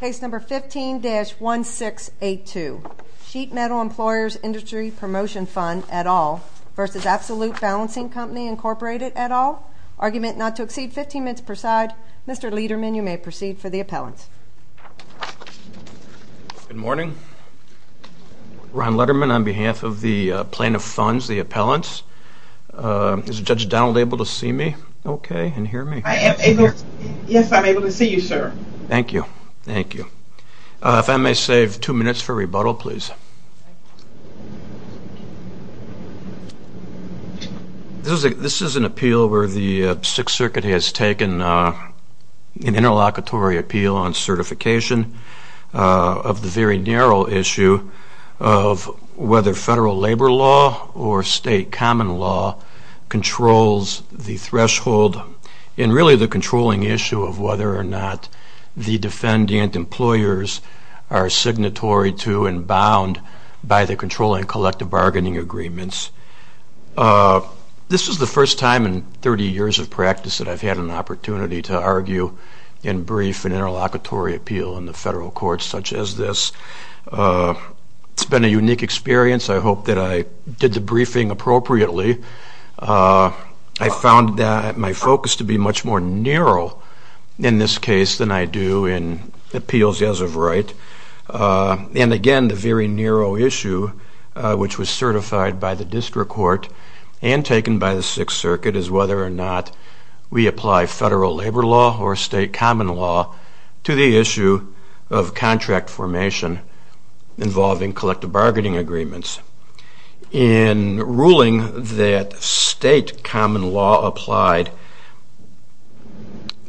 15-1682. Sheet Metal Employers Industry Promotion Fund et al. v. Absolut Balancing Company Incorporated et al., argument not to exceed 15 minutes per side. Mr. Liederman, you may proceed for the appellant. Good morning. Ron Lederman on behalf of the plan of funds, the appellants. Is Judge Donald able to see me okay and hear me? Yes, I'm able to see you, sir. Thank you. Thank you. If I may save two minutes for rebuttal, please. This is an appeal where the Sixth Circuit has taken an interlocutory appeal on certification of the very narrow issue of whether federal labor law or state common law controls the threshold and really the controlling issue of whether or not the defendant employers are signatory to and bound by the controlling collective bargaining agreements. This is the first time in 30 years of practice that I've had an opportunity to argue and brief an interlocutory appeal in the federal courts such as this. It's been a unique experience. I hope that I did the briefing appropriately. I found that my focus to be much more narrow in this case than I do in appeals as of right. And again, the very narrow issue which was certified by the district court and taken by the Sixth Circuit is whether or not we apply federal labor law or state common law to the issue of contract formation involving collective bargaining agreements. In ruling that state common law applied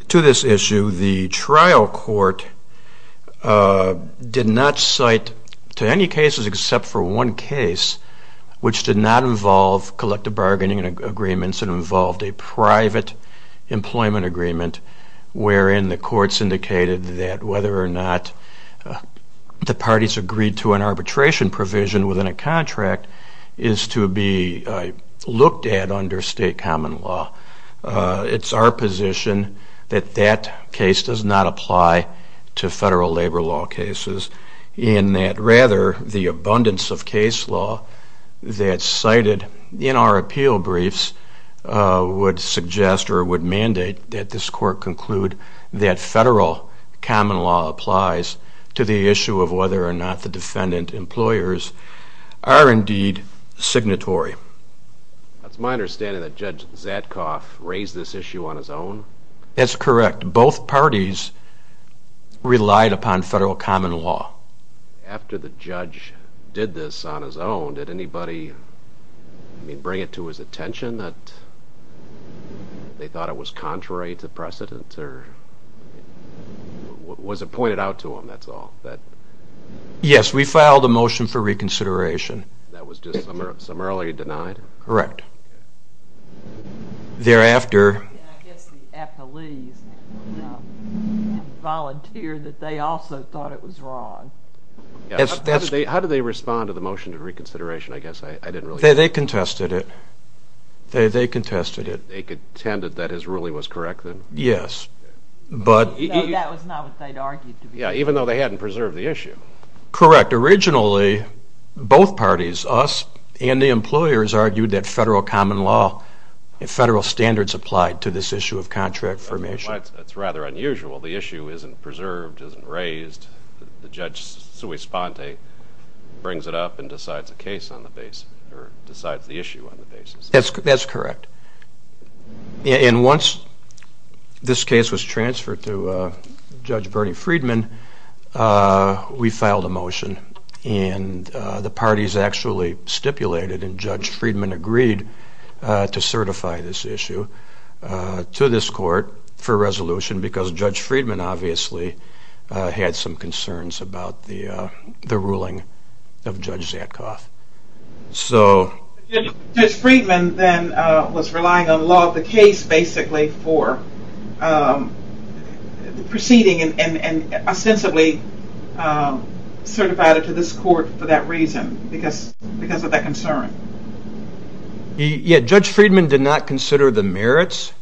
to this issue, the trial court did not cite to any cases except for one case which did not involve collective bargaining agreements. It involved a private employment agreement wherein the courts indicated that whether or not the parties agreed to an arbitration provision within a contract, is to be looked at under state common law. It's our position that that case does not apply to federal labor law cases. In that rather, the abundance of case law that's cited in our appeal briefs would suggest or would mandate that this court conclude that federal common law applies to the issue of whether or not the defendant employers are signatory. That's my understanding that Judge Zadkoff raised this issue on his own? That's correct. Both parties relied upon federal common law. After the judge did this on his own, did anybody bring it to his attention that they thought it was contrary to precedent or was it pointed out to him, that's all? Yes, we filed a motion for reconsideration. That was just summarily denied? Correct. I guess the appellees volunteered that they also thought it was wrong. How did they respond to the motion for reconsideration? They contested it. They contended that his ruling was correct? Yes. No, that was not what they'd argued to be. Even though they hadn't preserved the issue? Correct. Originally, both parties, us and the employers, argued that federal common law and federal standards applied to this issue of contract formation. That's rather unusual. The issue isn't preserved, isn't raised. The judge brings it up and decides the issue on the basis. That's correct. Once this case was transferred to Judge Bernie Friedman, we filed a motion. The parties actually stipulated and Judge Friedman agreed to certify this issue to this court for resolution because Judge Friedman obviously had some concerns about the ruling of Judge Zatkoff. Judge Friedman then was relying on law of the case basically for proceeding and ostensibly certified it to this court for that reason, because of that concern. Judge Friedman did not consider the merits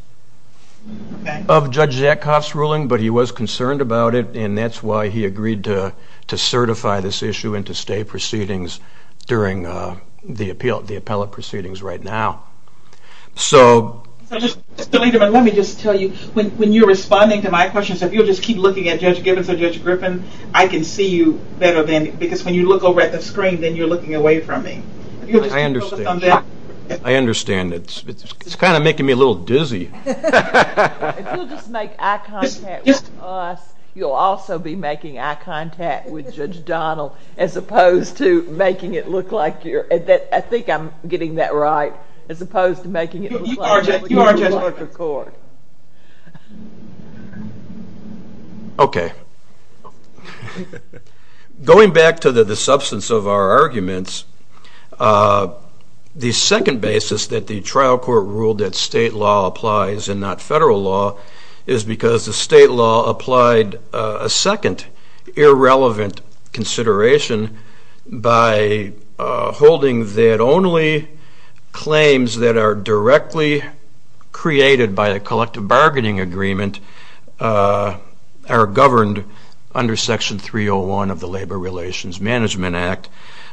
of Judge Zatkoff's ruling, but he was concerned about it, and that's why he agreed to certify this issue into state proceedings during the appellate proceedings right now. Mr. Lederman, let me just tell you, when you're responding to my questions, if you'll just keep looking at Judge Gibbons or Judge Griffin, I can see you better, because when you look over at the screen, then you're looking away from me. I understand. I understand. It's kind of making me a little dizzy. If you'll just make eye contact with us, you'll also be making eye contact with Judge Donnell, as opposed to making it look like you're, I think I'm getting that right, as opposed to making it look like you're with the court. Okay. Going back to the substance of our arguments, the second basis that the trial court ruled that state law applies and not federal law is because the state law applied a second, irrelevant consideration by holding that only claims that are directly created by the court, which is the collective bargaining agreement, are governed under Section 301 of the Labor Relations Management Act.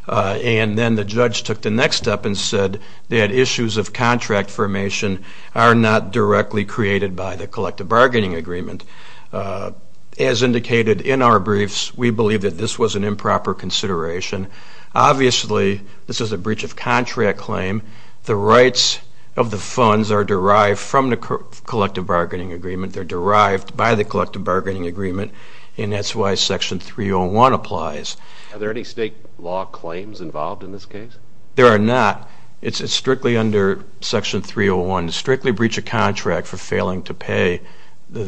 And then the judge took the next step and said that issues of contract formation are not directly created by the collective bargaining agreement. As indicated in our briefs, we believe that this was an improper consideration. Obviously, this is a breach of contract claim. The rights of the funds are derived from the collective bargaining agreement. They're derived by the collective bargaining agreement, and that's why Section 301 applies. Are there any state law claims involved in this case? There are not. It's strictly under Section 301 to strictly breach a contract for failing to pay the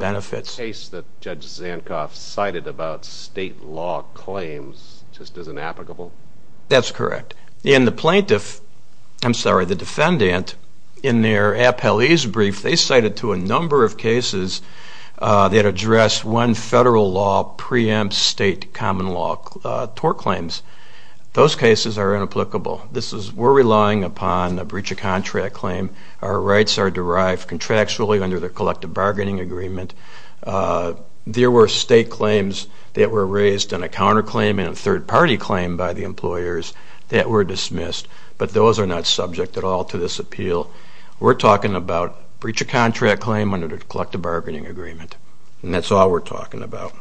benefits. So the case that Judge Zankoff cited about state law claims just is inapplicable? That's correct. In the plaintiff, I'm sorry, the defendant, in their appellee's brief, they cited to a number of cases that address when federal law preempts state common law tort claims. Those cases are inapplicable. We're relying upon a breach of contract claim. Our rights are derived contractually under the collective bargaining agreement. There were state claims that were raised on a counterclaim and a third-party claim by the employers that were dismissed, but those are not subject at all to this appeal. We're talking about breach of contract claim under the collective bargaining agreement, and that's all we're talking about.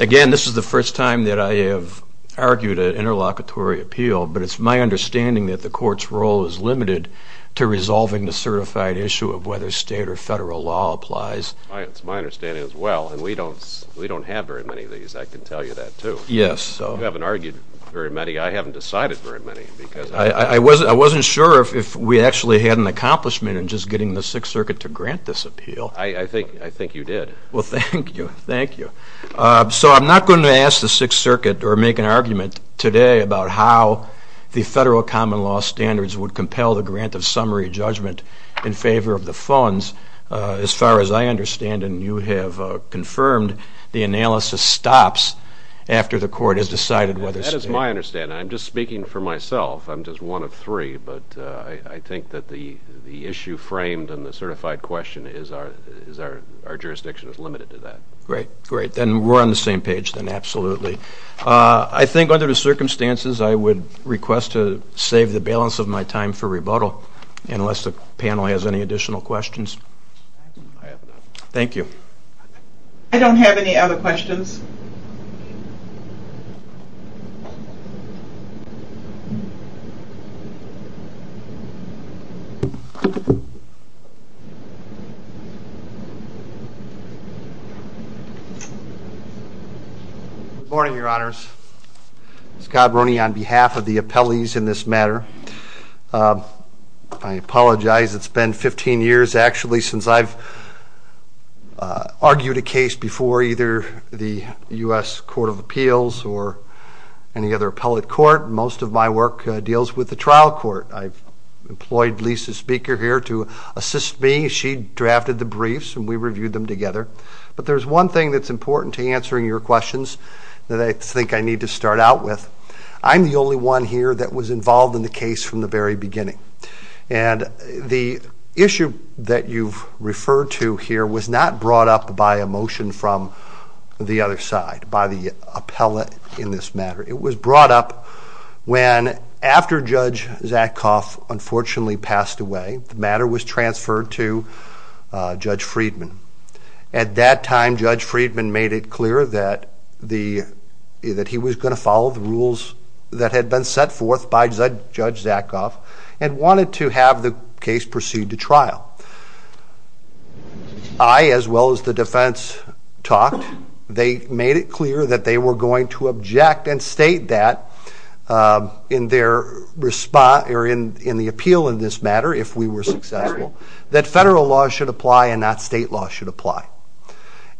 Again, this is the first time that I have argued an interlocutory appeal, but it's my understanding that the court's role is limited to resolving the certified issue of whether state or federal law applies. It's my understanding as well, and we don't have very many of these, I can tell you that, too. You haven't argued very many. I haven't decided very many. I wasn't sure if we actually had an accomplishment in just getting the Sixth Circuit to grant this appeal. I think you did. Well, thank you. Thank you. So I'm not going to ask the Sixth Circuit or make an argument today about how the federal common law standards would compel the grant of summary judgment in favor of the funds. As far as I understand, and you have confirmed, the analysis stops after the court has decided whether state… Our jurisdiction is limited to that. Great. Great. Then we're on the same page then, absolutely. I think under the circumstances, I would request to save the balance of my time for rebuttal, unless the panel has any additional questions. I have none. Thank you. I don't have any other questions. Good morning, Your Honors. Scott Brony on behalf of the appellees in this matter. I apologize. It's been 15 years, actually, since I've argued a case before either the U.S. Court of Appeals or any other appellate court. Most of my work deals with the trial court. I've employed Lisa's speaker here to assist me. She drafted the briefs, and we reviewed them together. But there's one thing that's important to answering your questions that I think I need to start out with. I'm the only one here that was involved in the case from the very beginning. And the issue that you've referred to here was not brought up by a motion from the other side, by the appellate in this matter. It was brought up when, after Judge Zakoff unfortunately passed away, the matter was transferred to Judge Friedman. At that time, Judge Friedman made it clear that he was going to follow the rules that had been set forth by Judge Zakoff and wanted to have the case proceed to trial. I, as well as the defense, talked. They made it clear that they were going to object and state that in the appeal in this matter, if we were successful, that federal law should apply and not state law should apply.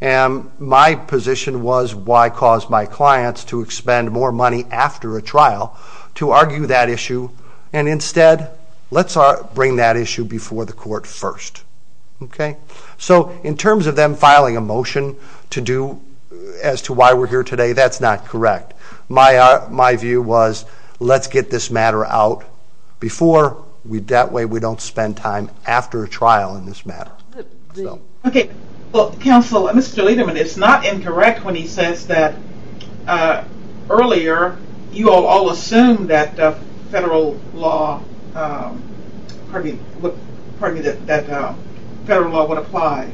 And my position was, why cause my clients to expend more money after a trial to argue that issue? And instead, let's bring that issue before the court first. So, in terms of them filing a motion as to why we're here today, that's not correct. My view was, let's get this matter out before, that way we don't spend time after a trial in this matter. Counsel, Mr. Lederman, it's not incorrect when he says that earlier you all assumed that federal law would apply.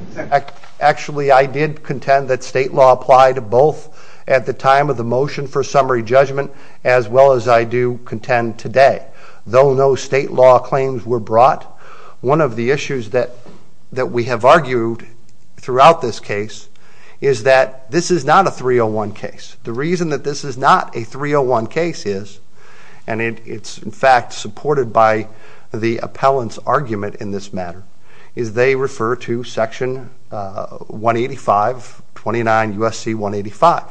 Actually, I did contend that state law applied both at the time of the motion for summary judgment as well as I do contend today. Though no state law claims were brought, one of the issues that we have argued throughout this case is that this is not a 301 case. The reason that this is not a 301 case is, and it's in fact supported by the appellant's argument in this matter, is they refer to Section 185, 29 U.S.C. 185.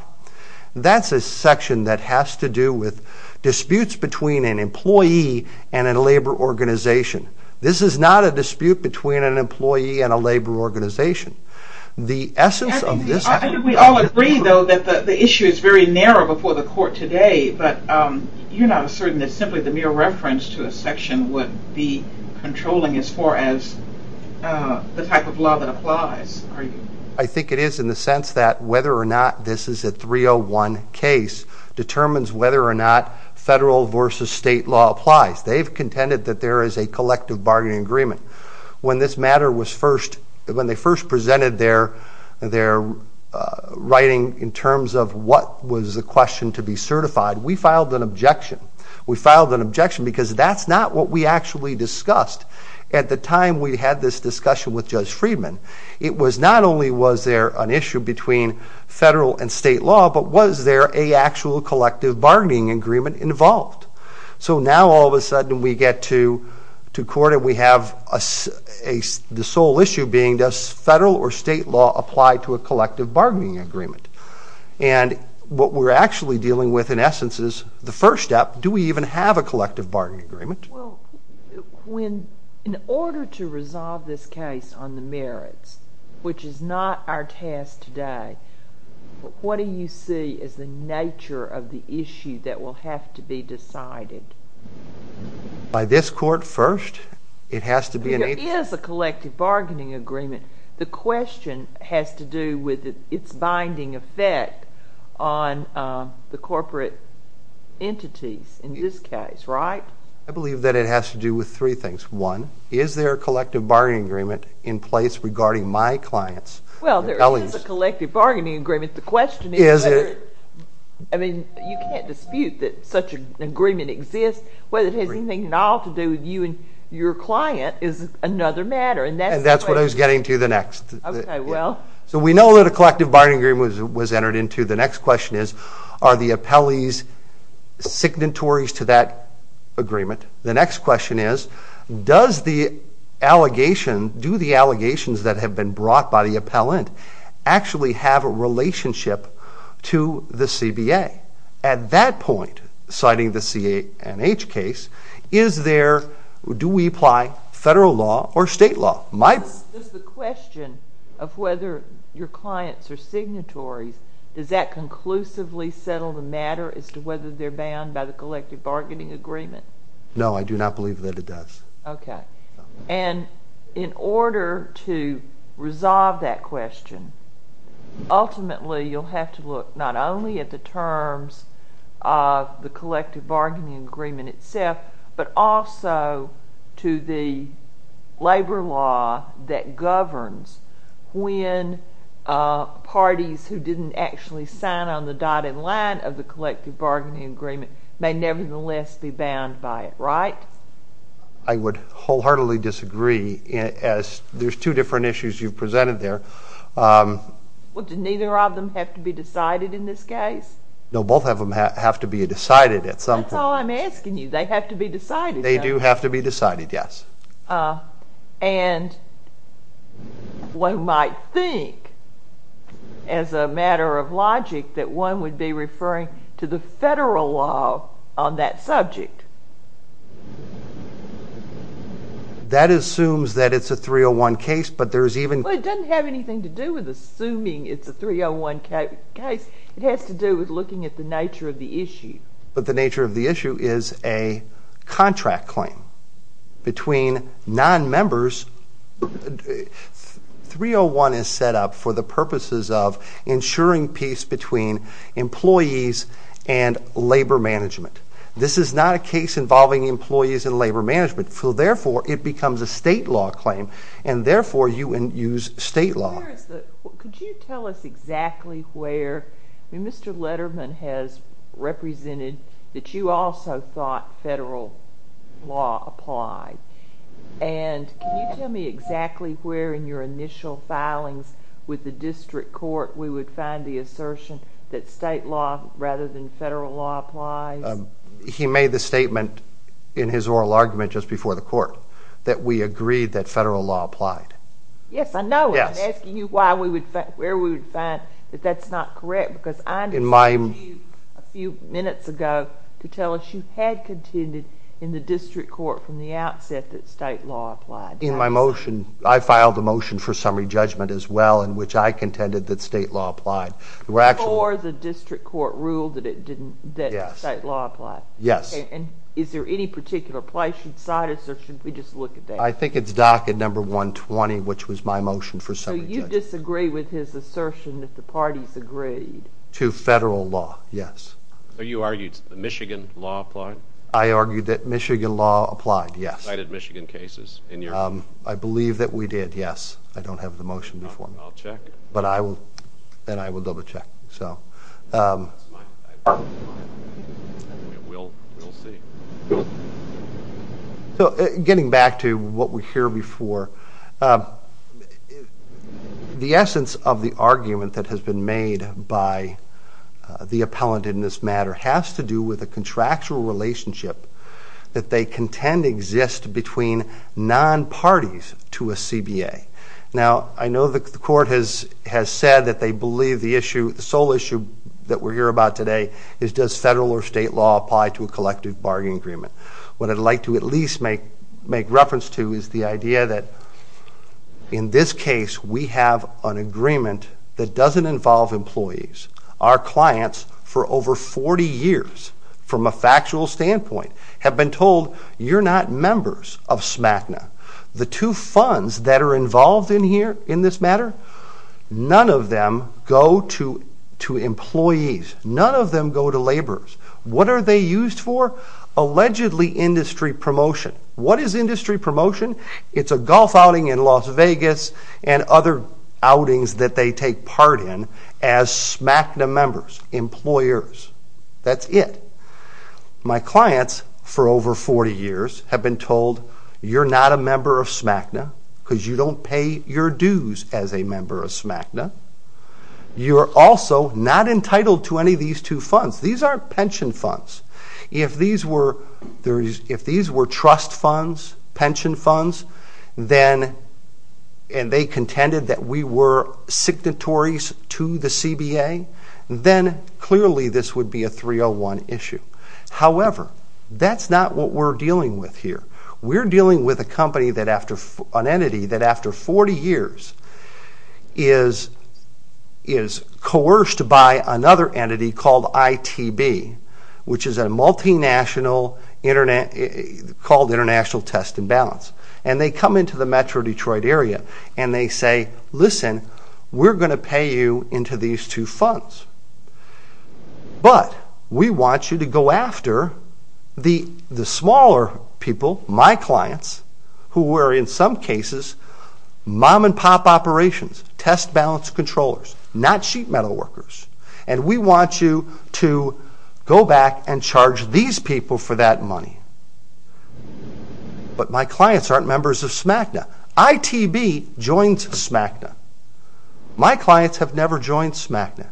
That's a section that has to do with disputes between an employee and a labor organization. This is not a dispute between an employee and a labor organization. The essence of this... We all agree, though, that the issue is very narrow before the court today, but you're not asserting that simply the mere reference to a section would be controlling as far as the type of law that applies, are you? I think it is in the sense that whether or not this is a 301 case determines whether or not federal versus state law applies. They've contended that there is a collective bargaining agreement. When this matter was first... When they first presented their writing in terms of what was the question to be certified, we filed an objection. We filed an objection because that's not what we actually discussed. At the time we had this discussion with Judge Friedman, it was not only was there an issue between federal and state law, but was there a actual collective bargaining agreement involved? So now all of a sudden we get to court and we have the sole issue being, does federal or state law apply to a collective bargaining agreement? And what we're actually dealing with, in essence, is the first step, do we even have a collective bargaining agreement? In order to resolve this case on the merits, which is not our task today, what do you see as the nature of the issue that will have to be decided? By this court first? There is a collective bargaining agreement. The question has to do with its binding effect on the corporate entities in this case, right? I believe that it has to do with three things. One, is there a collective bargaining agreement in place regarding my clients? Well, there is a collective bargaining agreement. The question is whether... I mean, you can't dispute that such an agreement exists. Whether it has anything at all to do with you and your client is another matter. And that's what I was getting to the next. Okay, well... So we know that a collective bargaining agreement was entered into. The next question is, are the appellees signatories to that agreement? The next question is, does the allegation, do the allegations that have been brought by the appellant actually have a relationship to the CBA? At that point, citing the C&H case, is there, do we apply federal law or state law? The question of whether your clients are signatories, does that conclusively settle the matter as to whether they're bound by the collective bargaining agreement? No, I do not believe that it does. Okay. And in order to resolve that question, ultimately you'll have to look not only at the terms of the collective bargaining agreement itself, but also to the labor law that governs when parties who didn't actually sign on the dotted line of the collective bargaining agreement may nevertheless be bound by it, right? I would wholeheartedly disagree, as there's two different issues you've presented there. Well, do neither of them have to be decided in this case? No, both of them have to be decided at some point. That's all I'm asking you. They have to be decided. They do have to be decided, yes. And one might think, as a matter of logic, that one would be referring to the federal law on that subject. That assumes that it's a 301 case, but there's even— Well, it doesn't have anything to do with assuming it's a 301 case. It has to do with looking at the nature of the issue. But the nature of the issue is a contract claim between nonmembers. 301 is set up for the purposes of ensuring peace between employees and labor management. This is not a case involving employees and labor management, so therefore it becomes a state law claim, and therefore you use state law. Could you tell us exactly where—Mr. Letterman has represented that you also thought federal law applied. And can you tell me exactly where in your initial filings with the district court we would find the assertion that state law rather than federal law applies? He made the statement in his oral argument just before the court that we agreed that federal law applied. Yes, I know it. I'm asking you where we would find that that's not correct, because I told you a few minutes ago to tell us you had contended in the district court from the outset that state law applied. In my motion, I filed a motion for summary judgment as well in which I contended that state law applied. Before the district court ruled that state law applied. Yes. And is there any particular place inside us, or should we just look at that? I think it's docket number 120, which was my motion for summary judgment. So you disagree with his assertion that the parties agreed? To federal law, yes. So you argued Michigan law applied? I argued that Michigan law applied, yes. Cited Michigan cases in your— I believe that we did, yes. I don't have the motion before me. I'll check. And I will double check. That's fine. We'll see. So getting back to what we hear before, the essence of the argument that has been made by the appellant in this matter has to do with a contractual relationship that they contend exists between non-parties to a CBA. Now, I know the court has said that they believe the issue, the sole issue that we hear about today is does federal or state law apply to a collective bargaining agreement. What I'd like to at least make reference to is the idea that in this case we have an agreement that doesn't involve employees. Our clients, for over 40 years, from a factual standpoint, have been told, you're not members of SMACNA. The two funds that are involved in this matter, none of them go to employees. None of them go to laborers. What are they used for? Allegedly industry promotion. What is industry promotion? It's a golf outing in Las Vegas and other outings that they take part in as SMACNA members, employers. That's it. My clients, for over 40 years, have been told, you're not a member of SMACNA because you don't pay your dues as a member of SMACNA. You're also not entitled to any of these two funds. These aren't pension funds. If these were trust funds, pension funds, and they contended that we were signatories to the CBA, then clearly this would be a 301 issue. However, that's not what we're dealing with here. We're dealing with an entity that, after 40 years, is coerced by another entity called ITB, which is a multinational called International Test and Balance. They come into the metro Detroit area and they say, listen, we're going to pay you into these two funds. But we want you to go after the smaller people, my clients, who were in some cases mom-and-pop operations, test balance controllers, not sheet metal workers. And we want you to go back and charge these people for that money. But my clients aren't members of SMACNA. ITB joins SMACNA. My clients have never joined SMACNA.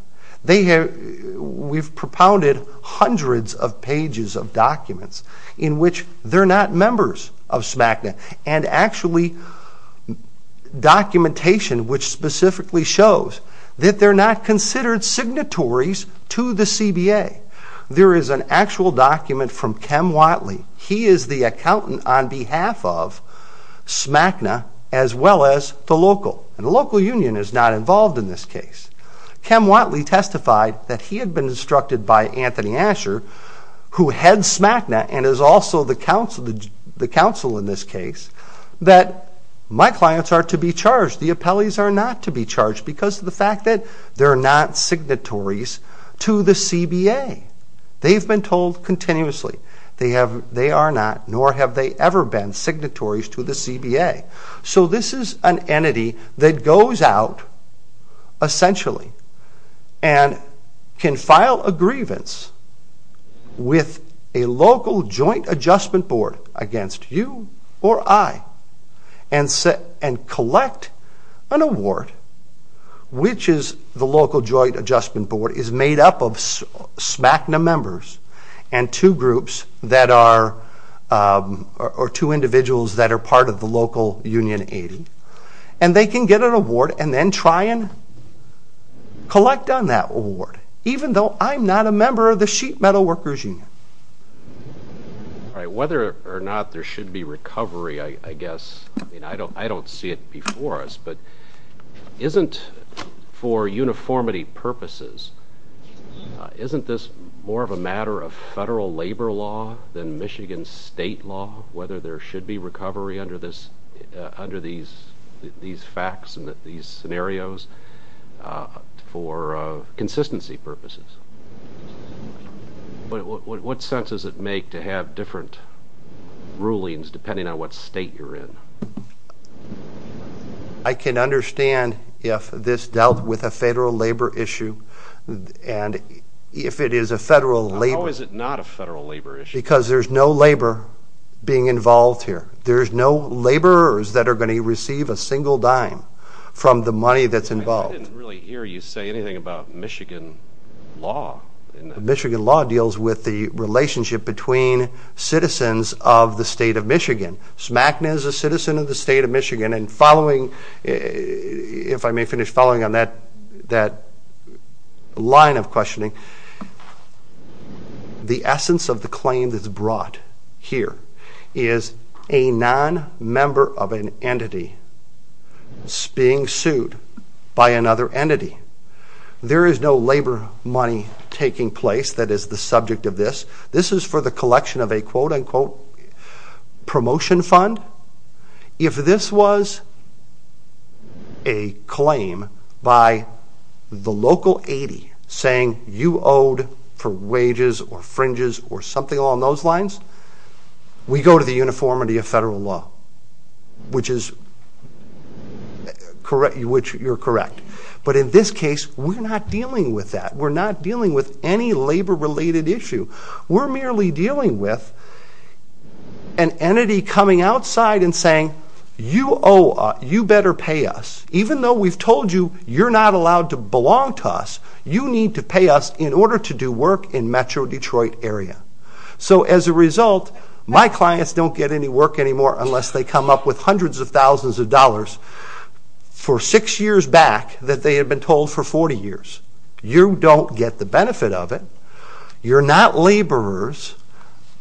We've propounded hundreds of pages of documents in which they're not members of SMACNA. And actually, documentation which specifically shows that they're not considered signatories to the CBA. There is an actual document from Kem Watley. He is the accountant on behalf of SMACNA as well as the local. And the local union is not involved in this case. Kem Watley testified that he had been instructed by Anthony Asher, who heads SMACNA and is also the counsel in this case, that my clients are to be charged. The appellees are not to be charged because of the fact that they're not signatories to the CBA. They've been told continuously. They are not, nor have they ever been, signatories to the CBA. So this is an entity that goes out, essentially, and can file a grievance with a local joint adjustment board against you or I, and collect an award, which is the local joint adjustment board is made up of SMACNA members and two groups that are, or two individuals that are part of the local union 80. And they can get an award and then try and collect on that award, even though I'm not a member of the Sheet Metal Workers Union. Whether or not there should be recovery, I guess, I don't see it before us, but isn't for uniformity purposes, isn't this more of a matter of federal labor law than Michigan state law, whether there should be recovery under these facts and these scenarios for consistency purposes? What sense does it make to have different rulings depending on what state you're in? I can understand if this dealt with a federal labor issue, and if it is a federal labor issue. How is it not a federal labor issue? Because there's no labor being involved here. There's no laborers that are going to receive a single dime from the money that's involved. I didn't really hear you say anything about Michigan law. Michigan law deals with the relationship between citizens of the state of Michigan. SMACNA is a citizen of the state of Michigan, and following, if I may finish following on that line of questioning, the essence of the claim that's brought here is a non-member of an entity being sued by another entity. There is no labor money taking place that is the subject of this. This is for the collection of a quote-unquote promotion fund. If this was a claim by the local 80 saying you owed for wages or fringes or something along those lines, we go to the uniformity of federal law, which you're correct. But in this case, we're not dealing with that. We're not dealing with any labor-related issue. We're merely dealing with an entity coming outside and saying, you better pay us. Even though we've told you you're not allowed to belong to us, you need to pay us in order to do work in Metro Detroit area. So as a result, my clients don't get any work anymore unless they come up with hundreds of thousands of dollars for six years back that they had been told for 40 years. You don't get the benefit of it. You're not laborers.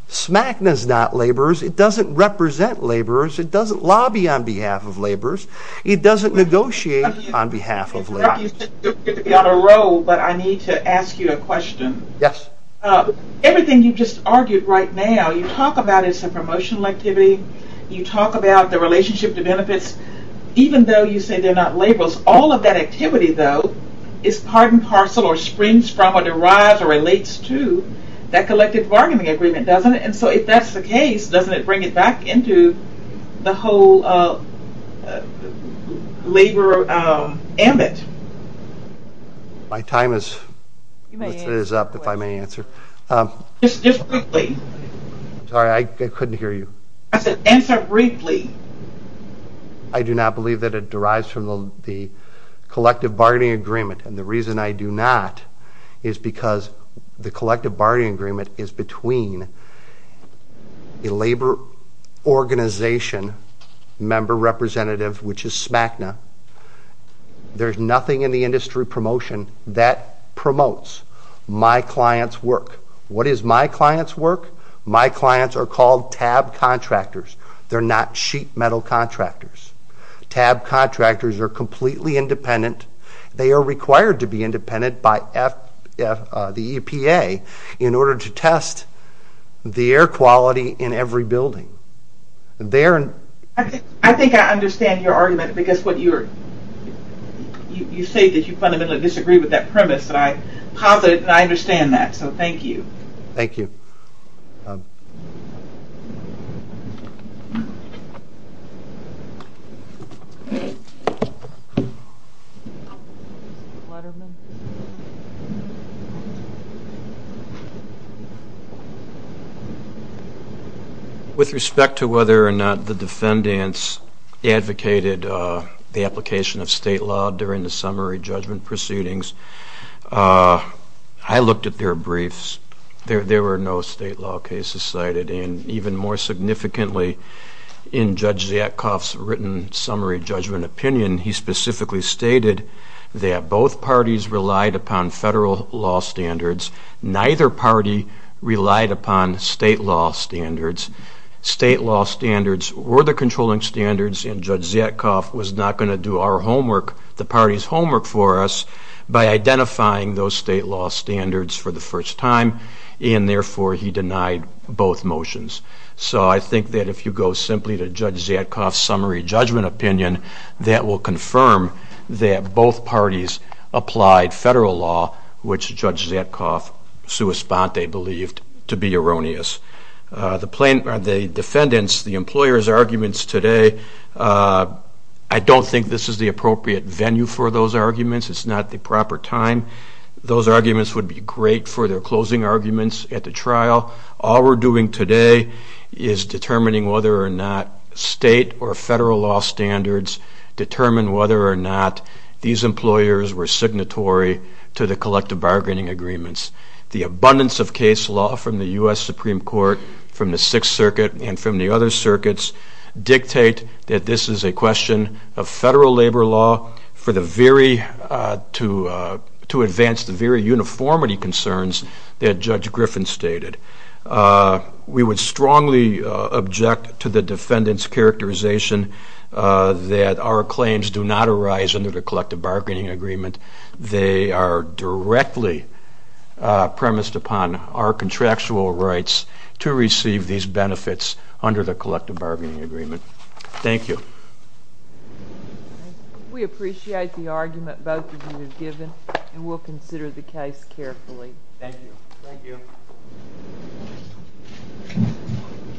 SMACNA is not laborers. It doesn't represent laborers. It doesn't lobby on behalf of laborers. It doesn't negotiate on behalf of laborers. It's good to be on a roll, but I need to ask you a question. Yes. Everything you just argued right now, you talk about it's a promotional activity. You talk about the relationship to benefits, even though you say they're not laborers. Almost all of that activity, though, is part and parcel or springs from or derives or relates to that collective bargaining agreement, doesn't it? And so if that's the case, doesn't it bring it back into the whole labor ambit? My time is up, if I may answer. Just briefly. Sorry, I couldn't hear you. Answer briefly. I do not believe that it derives from the collective bargaining agreement. And the reason I do not is because the collective bargaining agreement is between a labor organization member representative, which is SMACNA. There's nothing in the industry promotion that promotes my client's work. What is my client's work? My clients are called TAB contractors. They're not sheet metal contractors. TAB contractors are completely independent. They are required to be independent by the EPA in order to test the air quality in every building. I think I understand your argument, because you say that you fundamentally disagree with that premise. And I understand that, so thank you. Thank you. Thank you. With respect to whether or not the defendants advocated the application of state law during the summary judgment proceedings, I looked at their briefs. There were no state law cases cited. And even more significantly, in Judge Zietkoff's written summary judgment opinion, he specifically stated that both parties relied upon federal law standards. Neither party relied upon state law standards. State law standards were the controlling standards, and Judge Zietkoff was not going to do our homework, the party's homework for us, by identifying those state law standards for the first time, and therefore he denied both motions. So I think that if you go simply to Judge Zietkoff's summary judgment opinion, that will confirm that both parties applied federal law, which Judge Zietkoff sui sponte believed to be erroneous. The defendants, the employers' arguments today, I don't think this is the appropriate venue for those arguments. It's not the proper time. Those arguments would be great for their closing arguments at the trial. All we're doing today is determining whether or not state or federal law standards determine whether or not these employers were signatory to the collective bargaining agreements. The abundance of case law from the U.S. Supreme Court, from the Sixth Circuit, and from the other circuits dictate that this is a question of federal labor law to advance the very uniformity concerns that Judge Griffin stated. We would strongly object to the defendant's characterization that our claims do not arise under the collective bargaining agreement. They are directly premised upon our contractual rights to receive these benefits under the collective bargaining agreement. Thank you. We appreciate the argument both of you have given, and we'll consider the case carefully. Thank you. Thank you.